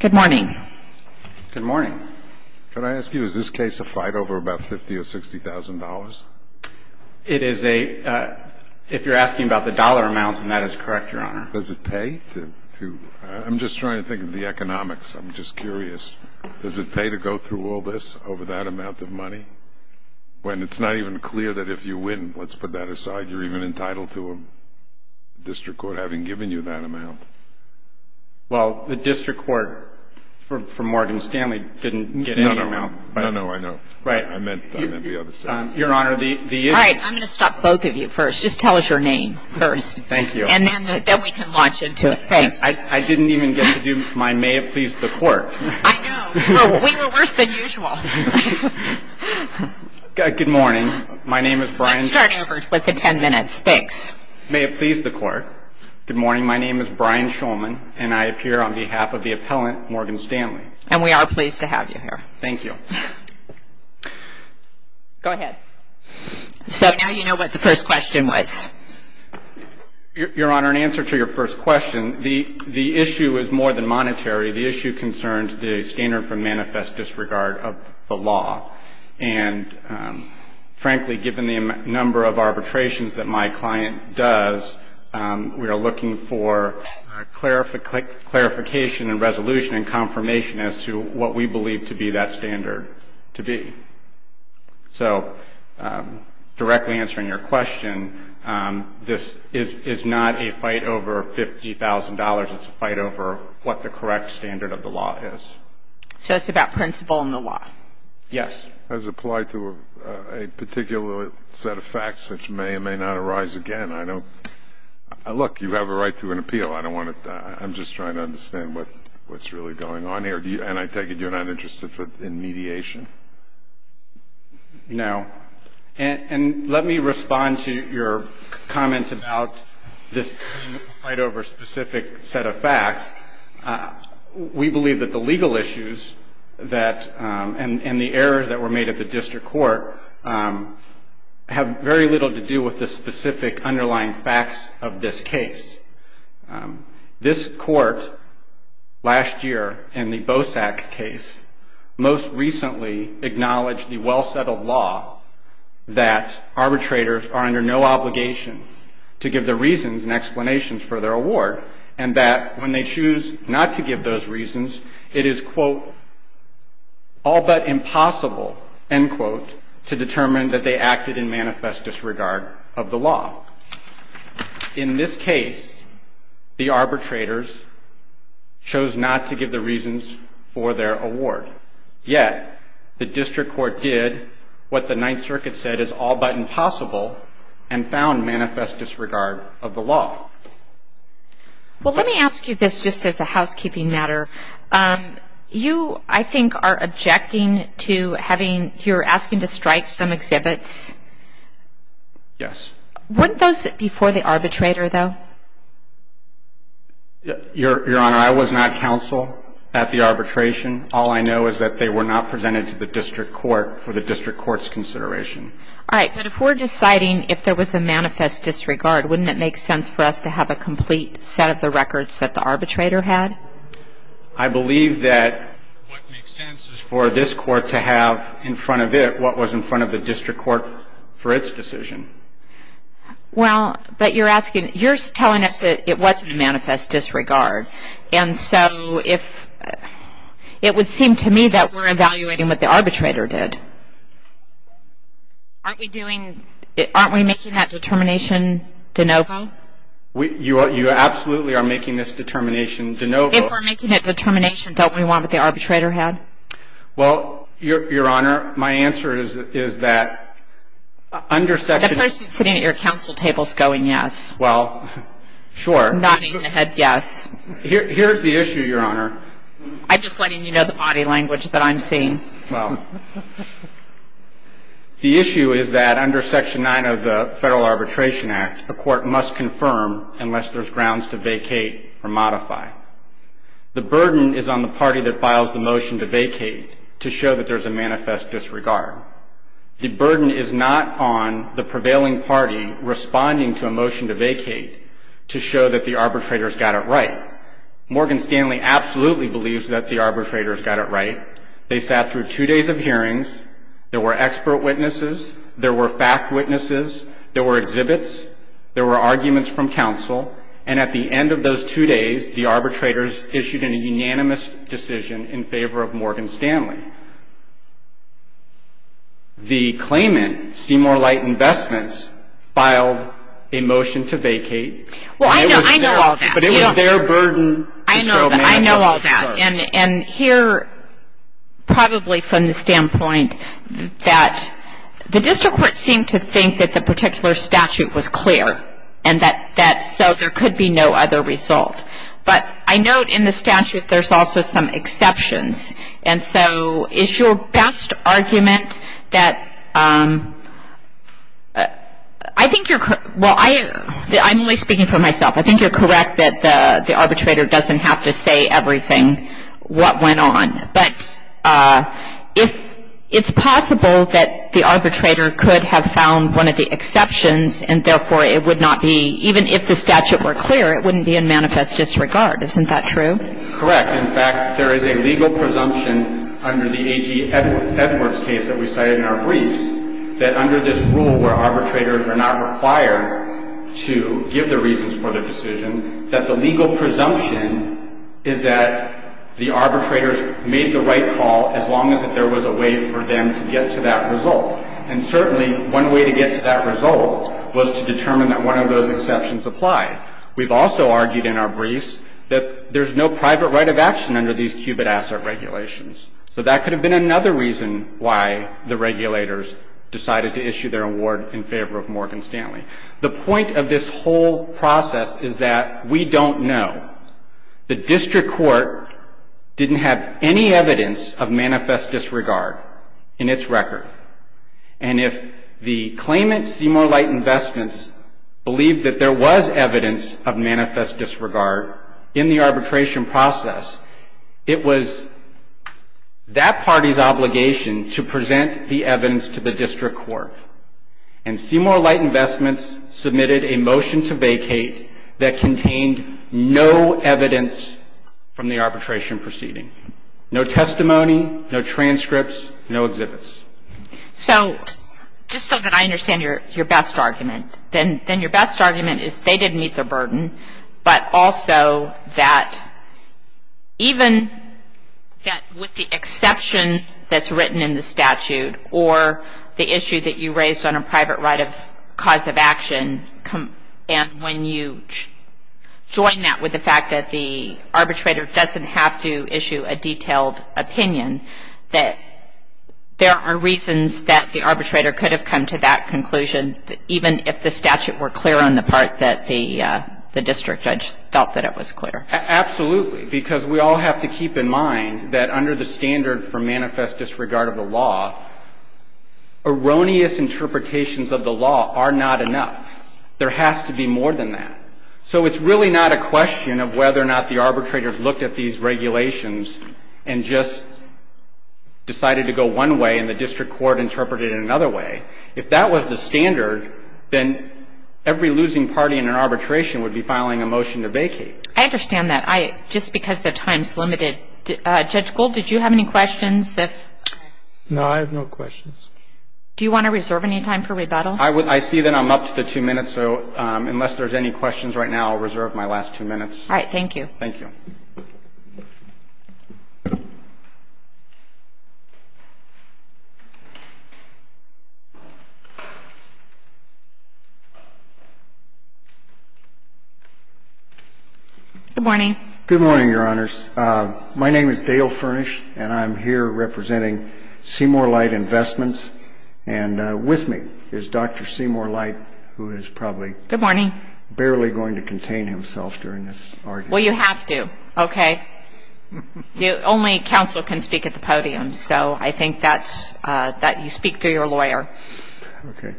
Good morning. Good morning. Could I ask you, is this case a fight over about $50,000 or $60,000? It is a, if you're asking about the dollar amount, then that is correct, Your Honor. Does it pay to, I'm just trying to think of the economics, I'm just curious. Does it pay to go through all this over that amount of money? When it's not even clear that if you win, let's put that aside, you're even entitled to a district court having given you that amount. Well, the district court for Morgan Stanley didn't get any amount. No, no, I know. Right. I meant the other side. Your Honor, the issue. All right. I'm going to stop both of you first. Just tell us your name first. Thank you. And then we can launch into it. Thanks. I didn't even get to do my may it please the court. I know. We were worse than usual. Good morning. My name is Brian. Let's start over with the 10 minutes. Thanks. May it please the court. Good morning. My name is Brian Shulman, and I appear on behalf of the appellant, Morgan Stanley. And we are pleased to have you here. Thank you. Go ahead. So now you know what the first question was. Your Honor, in answer to your first question, the issue is more than monetary. The issue concerns the standard for manifest disregard of the law. And frankly, given the number of arbitrations that my client does, we are looking for clarification and resolution and confirmation as to what we believe to be that standard to be. So directly answering your question, this is not a fight over $50,000. It's a fight over what the correct standard of the law is. So it's about principle and the law. Yes. As applied to a particular set of facts which may or may not arise again. Look, you have a right to an appeal. I'm just trying to understand what's really going on here. And I take it you're not interested in mediation? No. And let me respond to your comments about this fight over a specific set of facts. We believe that the legal issues and the errors that were made at the district court have very little to do with the specific underlying facts of this case. This court last year in the BOSAC case most recently acknowledged the well-settled law that arbitrators are under no obligation to give their reasons and explanations for their award and that when they choose not to give those reasons, it is, quote, all but impossible, end quote, to determine that they acted in manifest disregard of the law. In this case, the arbitrators chose not to give the reasons for their award. Yet the district court did what the Ninth Circuit said is all but impossible and found manifest disregard of the law. Well, let me ask you this just as a housekeeping matter. You, I think, are objecting to having you're asking to strike some exhibits. Yes. Weren't those before the arbitrator, though? Your Honor, I was not counsel at the arbitration. All I know is that they were not presented to the district court for the district court's consideration. All right. But if we're deciding if there was a manifest disregard, wouldn't it make sense for us to have a complete set of the records that the arbitrator had? I believe that what makes sense is for this court to have in front of it what was in front of the district court for its decision. Well, but you're asking, you're telling us that it wasn't a manifest disregard. And so if, it would seem to me that we're evaluating what the arbitrator did. Aren't we doing, aren't we making that determination de novo? You absolutely are making this determination de novo. If we're making that determination, don't we want what the arbitrator had? Well, Your Honor, my answer is that under section. The person sitting at your counsel table is going yes. Well, sure. I'm nodding my head yes. Here's the issue, Your Honor. I'm just letting you know the body language that I'm seeing. Well, the issue is that under section 9 of the Federal Arbitration Act, a court must confirm unless there's grounds to vacate or modify. The burden is on the party that files the motion to vacate to show that there's a manifest disregard. The burden is not on the prevailing party responding to a motion to vacate to show that the arbitrators got it right. Morgan Stanley absolutely believes that the arbitrators got it right. They sat through two days of hearings. There were expert witnesses. There were fact witnesses. There were exhibits. There were arguments from counsel. And at the end of those two days, the arbitrators issued a unanimous decision in favor of Morgan Stanley. And the claimant, Seymour Light Investments, filed a motion to vacate. Well, I know all that. But it was their burden to show manifest disregard. I know all that. And here, probably from the standpoint that the district court seemed to think that the particular statute was clear and that so there could be no other result. But I note in the statute there's also some exceptions. And so is your best argument that I think you're well, I'm only speaking for myself. I think you're correct that the arbitrator doesn't have to say everything, what went on. But if it's possible that the arbitrator could have found one of the exceptions and, therefore, it would not be even if the statute were clear, it wouldn't be in manifest disregard. Isn't that true? Correct. In fact, there is a legal presumption under the A.G. Edwards case that we cited in our briefs that under this rule where arbitrators are not required to give the reasons for the decision, that the legal presumption is that the arbitrators made the right call as long as there was a way for them to get to that result. And certainly, one way to get to that result was to determine that one of those exceptions applied. We've also argued in our briefs that there's no private right of action under these qubit asset regulations. So that could have been another reason why the regulators decided to issue their award in favor of Morgan Stanley. The point of this whole process is that we don't know. The district court didn't have any evidence of manifest disregard in its record. And if the claimant, Seymour Light Investments, believed that there was evidence of manifest disregard in the arbitration process, it was that party's obligation to present the evidence to the district court. And Seymour Light Investments submitted a motion to vacate that contained no evidence from the arbitration proceeding. No testimony, no transcripts, no exhibits. So just so that I understand your best argument, then your best argument is they didn't meet their burden, but also that even with the exception that's written in the statute or the issue that you raised on a private right of cause of action, and when you join that with the fact that the arbitrator doesn't have to issue a detailed opinion, that there are reasons that the arbitrator could have come to that conclusion, even if the statute were clear on the part that the district judge felt that it was clear. Absolutely. Because we all have to keep in mind that under the standard for manifest disregard of the law, erroneous interpretations of the law are not enough. There has to be more than that. So it's really not a question of whether or not the arbitrators looked at these regulations and just decided to go one way and the district court interpreted it another way. If that was the standard, then every losing party in an arbitration would be filing a motion to vacate. I understand that. Just because their time is limited. Judge Gold, did you have any questions? No, I have no questions. Do you want to reserve any time for rebuttal? I see that I'm up to two minutes, so unless there's any questions right now, I'll reserve my last two minutes. All right. Thank you. Thank you. Good morning. Good morning, Your Honors. My name is Dale Furnish, and I'm here representing Seymour Light Investments. And with me is Dr. Seymour Light, who is probably barely going to contain himself during this argument. Well, you have to. Okay. Only counsel can speak at the podium, so I think that you speak through your lawyer. Okay.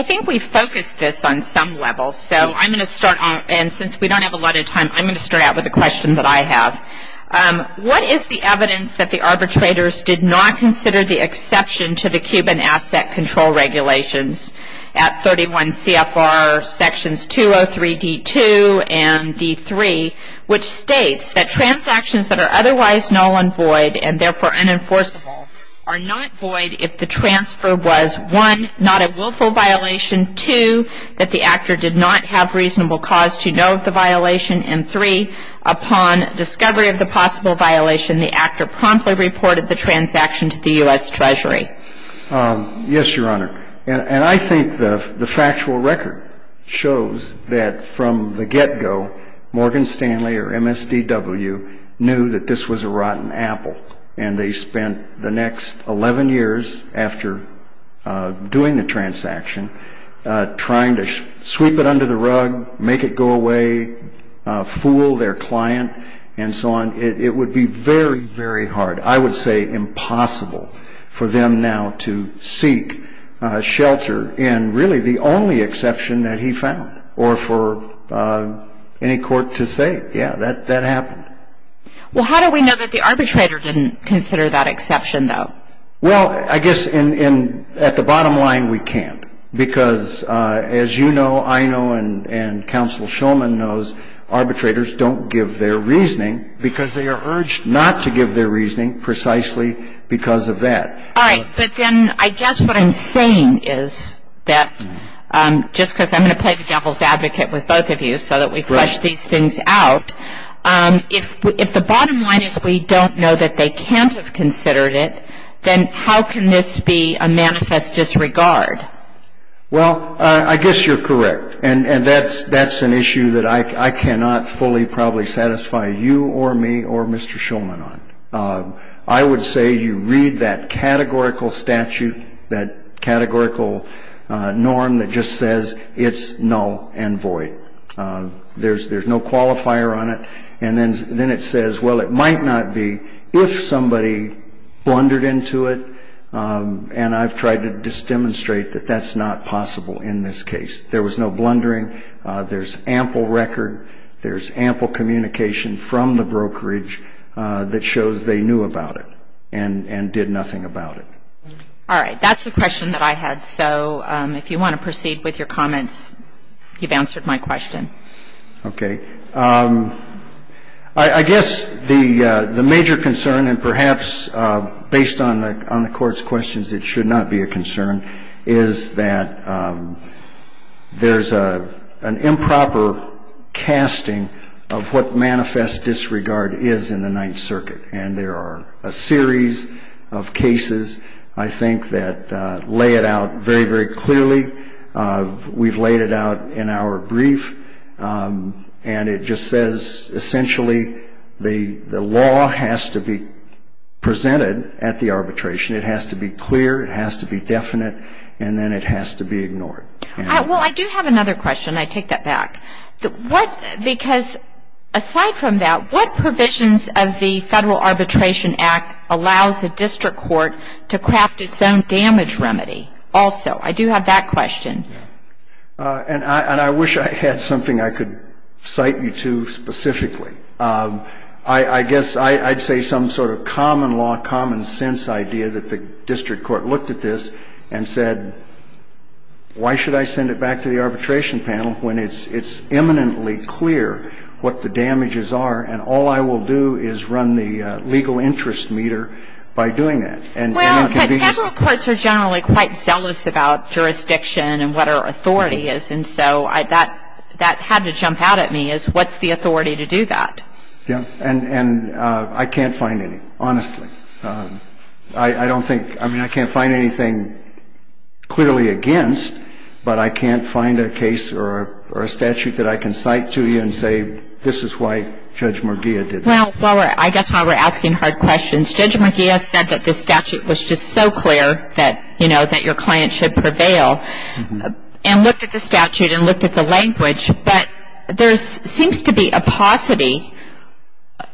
I think we've focused this on some level. So I'm going to start, and since we don't have a lot of time, I'm going to start out with a question that I have. What is the evidence that the arbitrators did not consider the exception to the Cuban Asset Control Regulations at 31 CFR sections 203D2 and D3, which states that transactions that are otherwise null and void and therefore unenforceable are not void if the transfer was, one, not a willful violation, two, that the actor did not have reasonable cause to know of the violation, and three, upon discovery of the possible violation, the actor promptly reported the transaction to the U.S. Treasury? Yes, Your Honor. And I think the factual record shows that from the get-go, Morgan Stanley or MSDW knew that this was a rotten apple, and they spent the next 11 years after doing the transaction trying to sweep it under the rug, make it go away, fool their client, and so on. It would be very, very hard, I would say impossible, for them now to seek shelter in really the only exception that he found or for any court to say, yeah, that happened. Well, how do we know that the arbitrator didn't consider that exception, though? Well, I guess at the bottom line, we can't, because as you know, I know, and Counsel Shulman knows, arbitrators don't give their reasoning because they are urged not to give their reasoning precisely because of that. All right. But then I guess what I'm saying is that just because I'm going to play the devil's advocate with both of you so that we flush these things out, if the bottom line is we don't know that they can't have considered it, then how can this be a manifest disregard? Well, I guess you're correct. And that's an issue that I cannot fully, probably satisfy you or me or Mr. Shulman on. I would say you read that categorical statute, that categorical norm that just says it's null and void. There's no qualifier on it. And then it says, well, it might not be if somebody blundered into it. And I've tried to demonstrate that that's not possible in this case. There was no blundering. There's ample record. There's ample communication from the brokerage that shows they knew about it and did nothing about it. All right. That's the question that I had. So if you want to proceed with your comments, you've answered my question. Okay. I guess the major concern, and perhaps based on the Court's questions, it should not be a concern, is that there's an improper casting of what manifest disregard is in the Ninth Circuit. And there are a series of cases, I think, that lay it out very, very clearly. We've laid it out in our brief. And it just says, essentially, the law has to be presented at the arbitration. It has to be clear. It has to be definite. And then it has to be ignored. Well, I do have another question. I take that back. Because aside from that, what provisions of the Federal Arbitration Act allows the district court to craft its own damage remedy? Also, I do have that question. And I wish I had something I could cite you to specifically. I guess I'd say some sort of common law, common sense idea that the district court looked at this and said, why should I send it back to the arbitration panel when it's imminently clear what the damages are, and all I will do is run the legal interest meter by doing that? Well, Federal courts are generally quite zealous about jurisdiction and what our authority is. And so that had to jump out at me, is what's the authority to do that? Yeah. And I can't find any, honestly. I don't think ‑‑ I mean, I can't find anything clearly against, but I can't find a case or a statute that I can cite to you and say, this is why Judge Merguia did that. Well, I guess while we're asking hard questions, Judge Merguia said that this statute was just so clear that, you know, that your client should prevail. And looked at the statute and looked at the language. But there seems to be a paucity,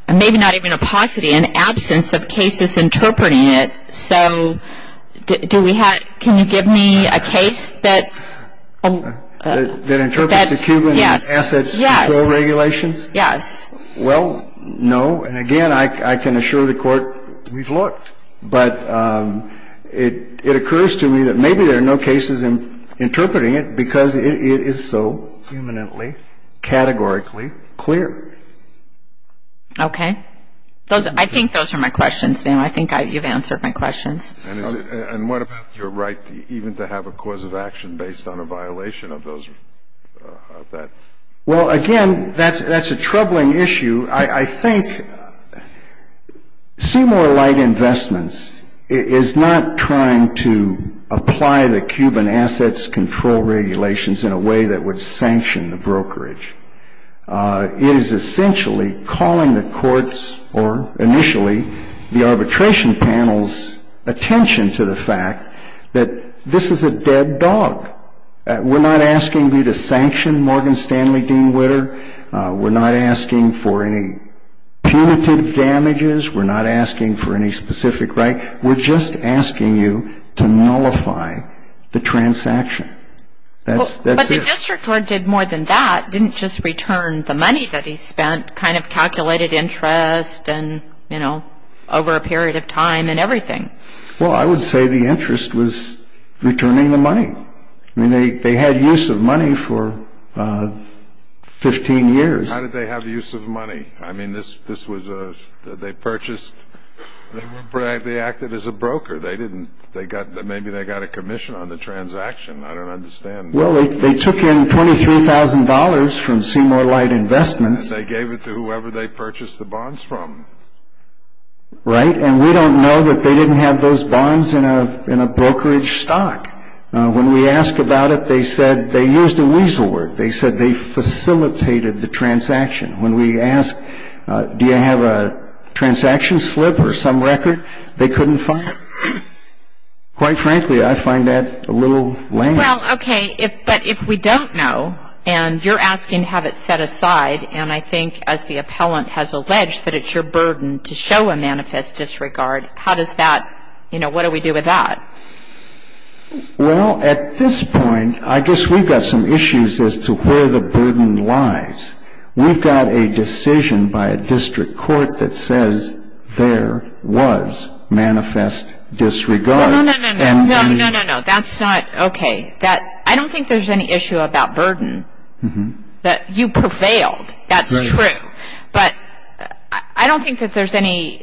maybe not even a paucity, an absence of cases interpreting it. So do we have ‑‑ can you give me a case that ‑‑ That interprets the Cuban Assets Control Regulations? Yes. Yes. Well, no. And, again, I can assure the Court, we've looked. But it occurs to me that maybe there are no cases interpreting it, because it is so eminently, categorically clear. Okay. I think those are my questions, Sam. I think you've answered my questions. And what about your right even to have a cause of action based on a violation of those ‑‑ of that? Well, again, that's a troubling issue. I think Seymour Light Investments is not trying to apply the Cuban Assets Control Regulations in a way that would sanction the brokerage. It is essentially calling the Court's, or initially the arbitration panel's, attention to the fact that this is a dead dog. We're not asking you to sanction Morgan Stanley Dean Witter. We're not asking for any punitive damages. We're not asking for any specific right. We're just asking you to nullify the transaction. That's it. But the district court did more than that. It didn't just return the money that he spent, kind of calculated interest and, you know, over a period of time and everything. Well, I would say the interest was returning the money. I mean, they had use of money for 15 years. How did they have use of money? I mean, this was a ‑‑ they purchased ‑‑ they acted as a broker. They didn't ‑‑ they got ‑‑ maybe they got a commission on the transaction. I don't understand. Well, they took in $23,000 from Seymour Light Investments. And they gave it to whoever they purchased the bonds from. Right. And we don't know that they didn't have those bonds in a brokerage stock. When we ask about it, they said they used a weasel word. They said they facilitated the transaction. When we ask, do you have a transaction slip or some record, they couldn't find it. Quite frankly, I find that a little lame. Well, okay, but if we don't know and you're asking to have it set aside, and I think as the appellant has alleged that it's your burden to show a manifest disregard, how does that, you know, what do we do with that? Well, at this point, I guess we've got some issues as to where the burden lies. We've got a decision by a district court that says there was manifest disregard. No, no, no, no, no, no, no, no. That's not okay. That ‑‑ I don't think there's any issue about burden that you prevailed. That's true. But I don't think that there's any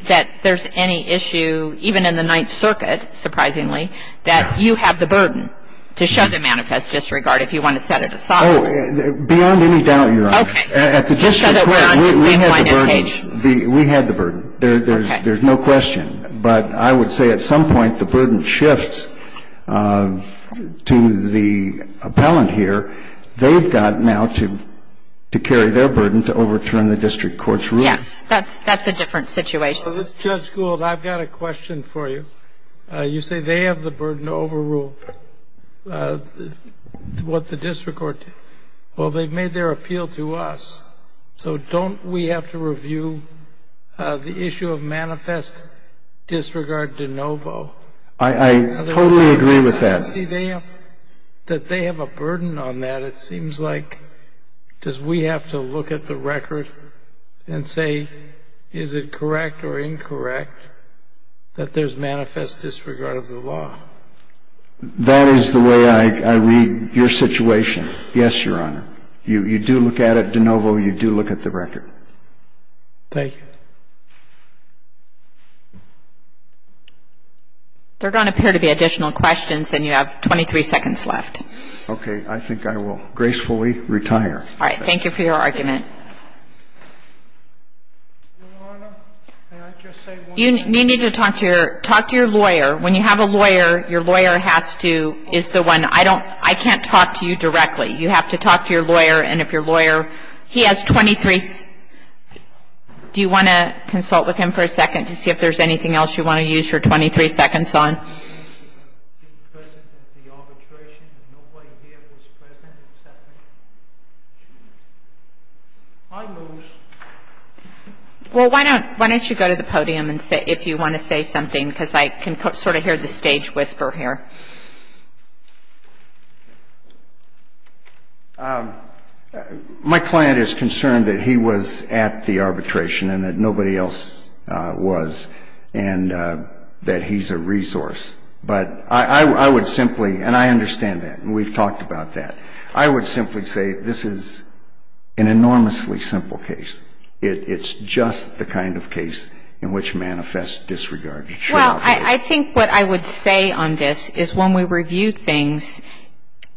issue, even in the Ninth Circuit, surprisingly, that you have the burden to show the manifest disregard if you want to set it aside. Oh, beyond any doubt, Your Honor. Okay. Just so that we're on the same line of page. We had the burden. Okay. There's no question. But I would say at some point the burden shifts to the appellant here. They've got now to carry their burden to overturn the district court's ruling. Yes. That's a different situation. Judge Gould, I've got a question for you. You say they have the burden to overrule what the district court did. Well, they've made their appeal to us. So don't we have to review the issue of manifest disregard de novo? I totally agree with that. See, that they have a burden on that, it seems like does we have to look at the record and say, is it correct or incorrect that there's manifest disregard of the law? That is the way I read your situation. Yes, Your Honor. You do look at it de novo. You do look at the record. Thank you. Thank you. There don't appear to be additional questions, and you have 23 seconds left. Okay. I think I will gracefully retire. All right. Thank you for your argument. Your Honor, may I just say one thing? You need to talk to your lawyer. When you have a lawyer, your lawyer has to be the one. I can't talk to you directly. You have to talk to your lawyer, and if your lawyer, he has 23. Do you want to consult with him for a second to see if there's anything else you want to use your 23 seconds on? Well, why don't you go to the podium if you want to say something, because I can sort of hear the stage whisper here. My client is concerned that he was at the arbitration and that nobody else was, and that he's a resource. But I would simply, and I understand that, and we've talked about that, I would simply say this is an enormously simple case. It's just the kind of case in which manifests disregard. Well, I think what I would say on this is when we review things,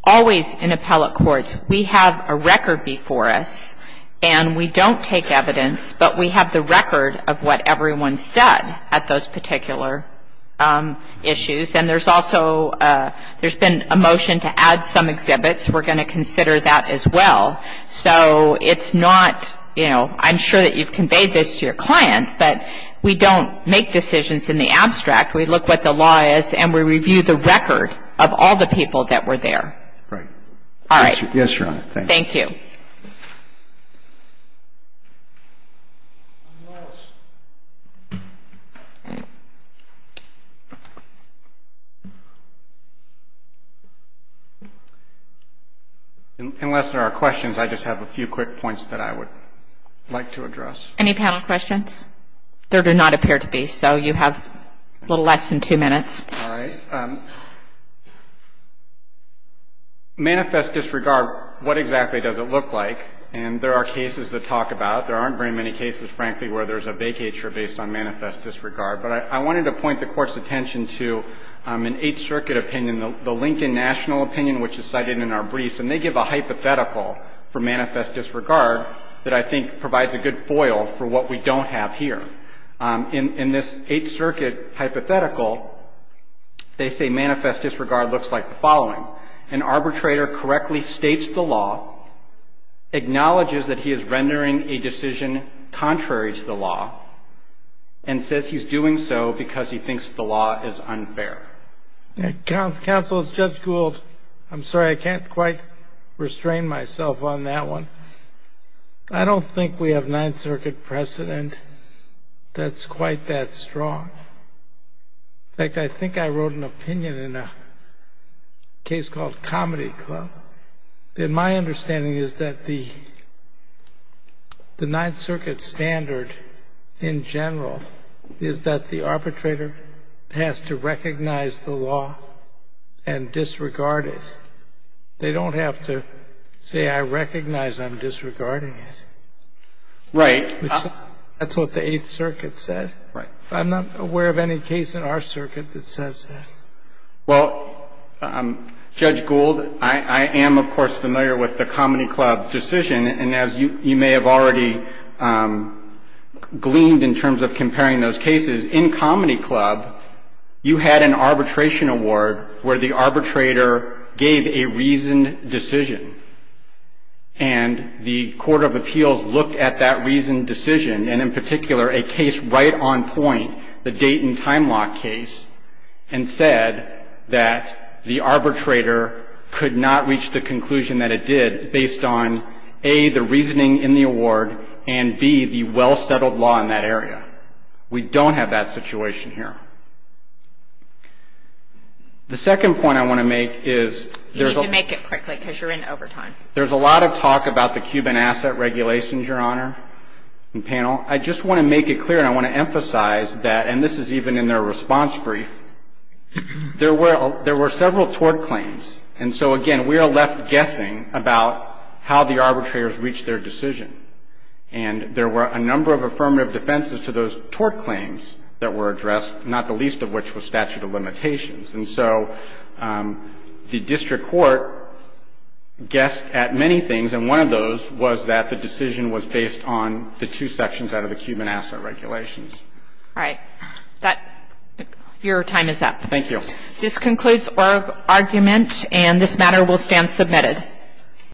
always in appellate courts, we have a record before us, and we don't take evidence, but we have the record of what everyone said at those particular issues. And there's also, there's been a motion to add some exhibits. We're going to consider that as well. So it's not, you know, I'm sure that you've conveyed this to your client, but we don't make decisions in the abstract. We look what the law is, and we review the record of all the people that were there. Right. All right. Yes, Your Honor. Thank you. Thank you. Unless there are questions, I just have a few quick points that I would like to address. Any panel questions? There do not appear to be, so you have a little less than two minutes. All right. Manifest disregard, what exactly does it look like? And there are cases to talk about. There aren't very many cases, frankly, where there's a vacature based on manifest disregard. But I wanted to point the Court's attention to an Eighth Circuit opinion, the Lincoln National opinion, which is cited in our briefs. And they give a hypothetical for manifest disregard that I think provides a good foil for what we don't have here. In this Eighth Circuit hypothetical, they say manifest disregard looks like the following. An arbitrator correctly states the law, acknowledges that he is rendering a decision contrary to the law, and says he's doing so because he thinks the law is unfair. Counsel, as Judge Gould, I'm sorry, I can't quite restrain myself on that one. I don't think we have Ninth Circuit precedent that's quite that strong. In fact, I think I wrote an opinion in a case called Comedy Club. And my understanding is that the Ninth Circuit standard, in general, is that the arbitrator has to recognize the law and disregard it. They don't have to say, I recognize I'm disregarding it. Right. That's what the Eighth Circuit said. Right. I'm not aware of any case in our circuit that says that. Well, Judge Gould, I am, of course, familiar with the Comedy Club decision. And as you may have already gleaned in terms of comparing those cases, in Comedy Club, you had an arbitration award where the arbitrator gave a reasoned decision. And the Court of Appeals looked at that reasoned decision, and in particular a case right on point, the Dayton Time Lock case, and said that the arbitrator could not reach the conclusion that it did based on, A, the reasoning in the award, and, B, the well-settled law in that area. We don't have that situation here. The second point I want to make is there's a lot of talk about the Cuban asset regulations, Your Honor and panel. I just want to make it clear, and I want to emphasize that, and this is even in their response brief, there were several tort claims. And so, again, we are left guessing about how the arbitrators reached their decision. And there were a number of affirmative defenses to those tort claims that were addressed, not the least of which was statute of limitations. And so the district court guessed at many things, and one of those was that the decision was based on the two sections out of the Cuban asset regulations. All right. Your time is up. Thank you. This concludes our argument, and this matter will stand submitted.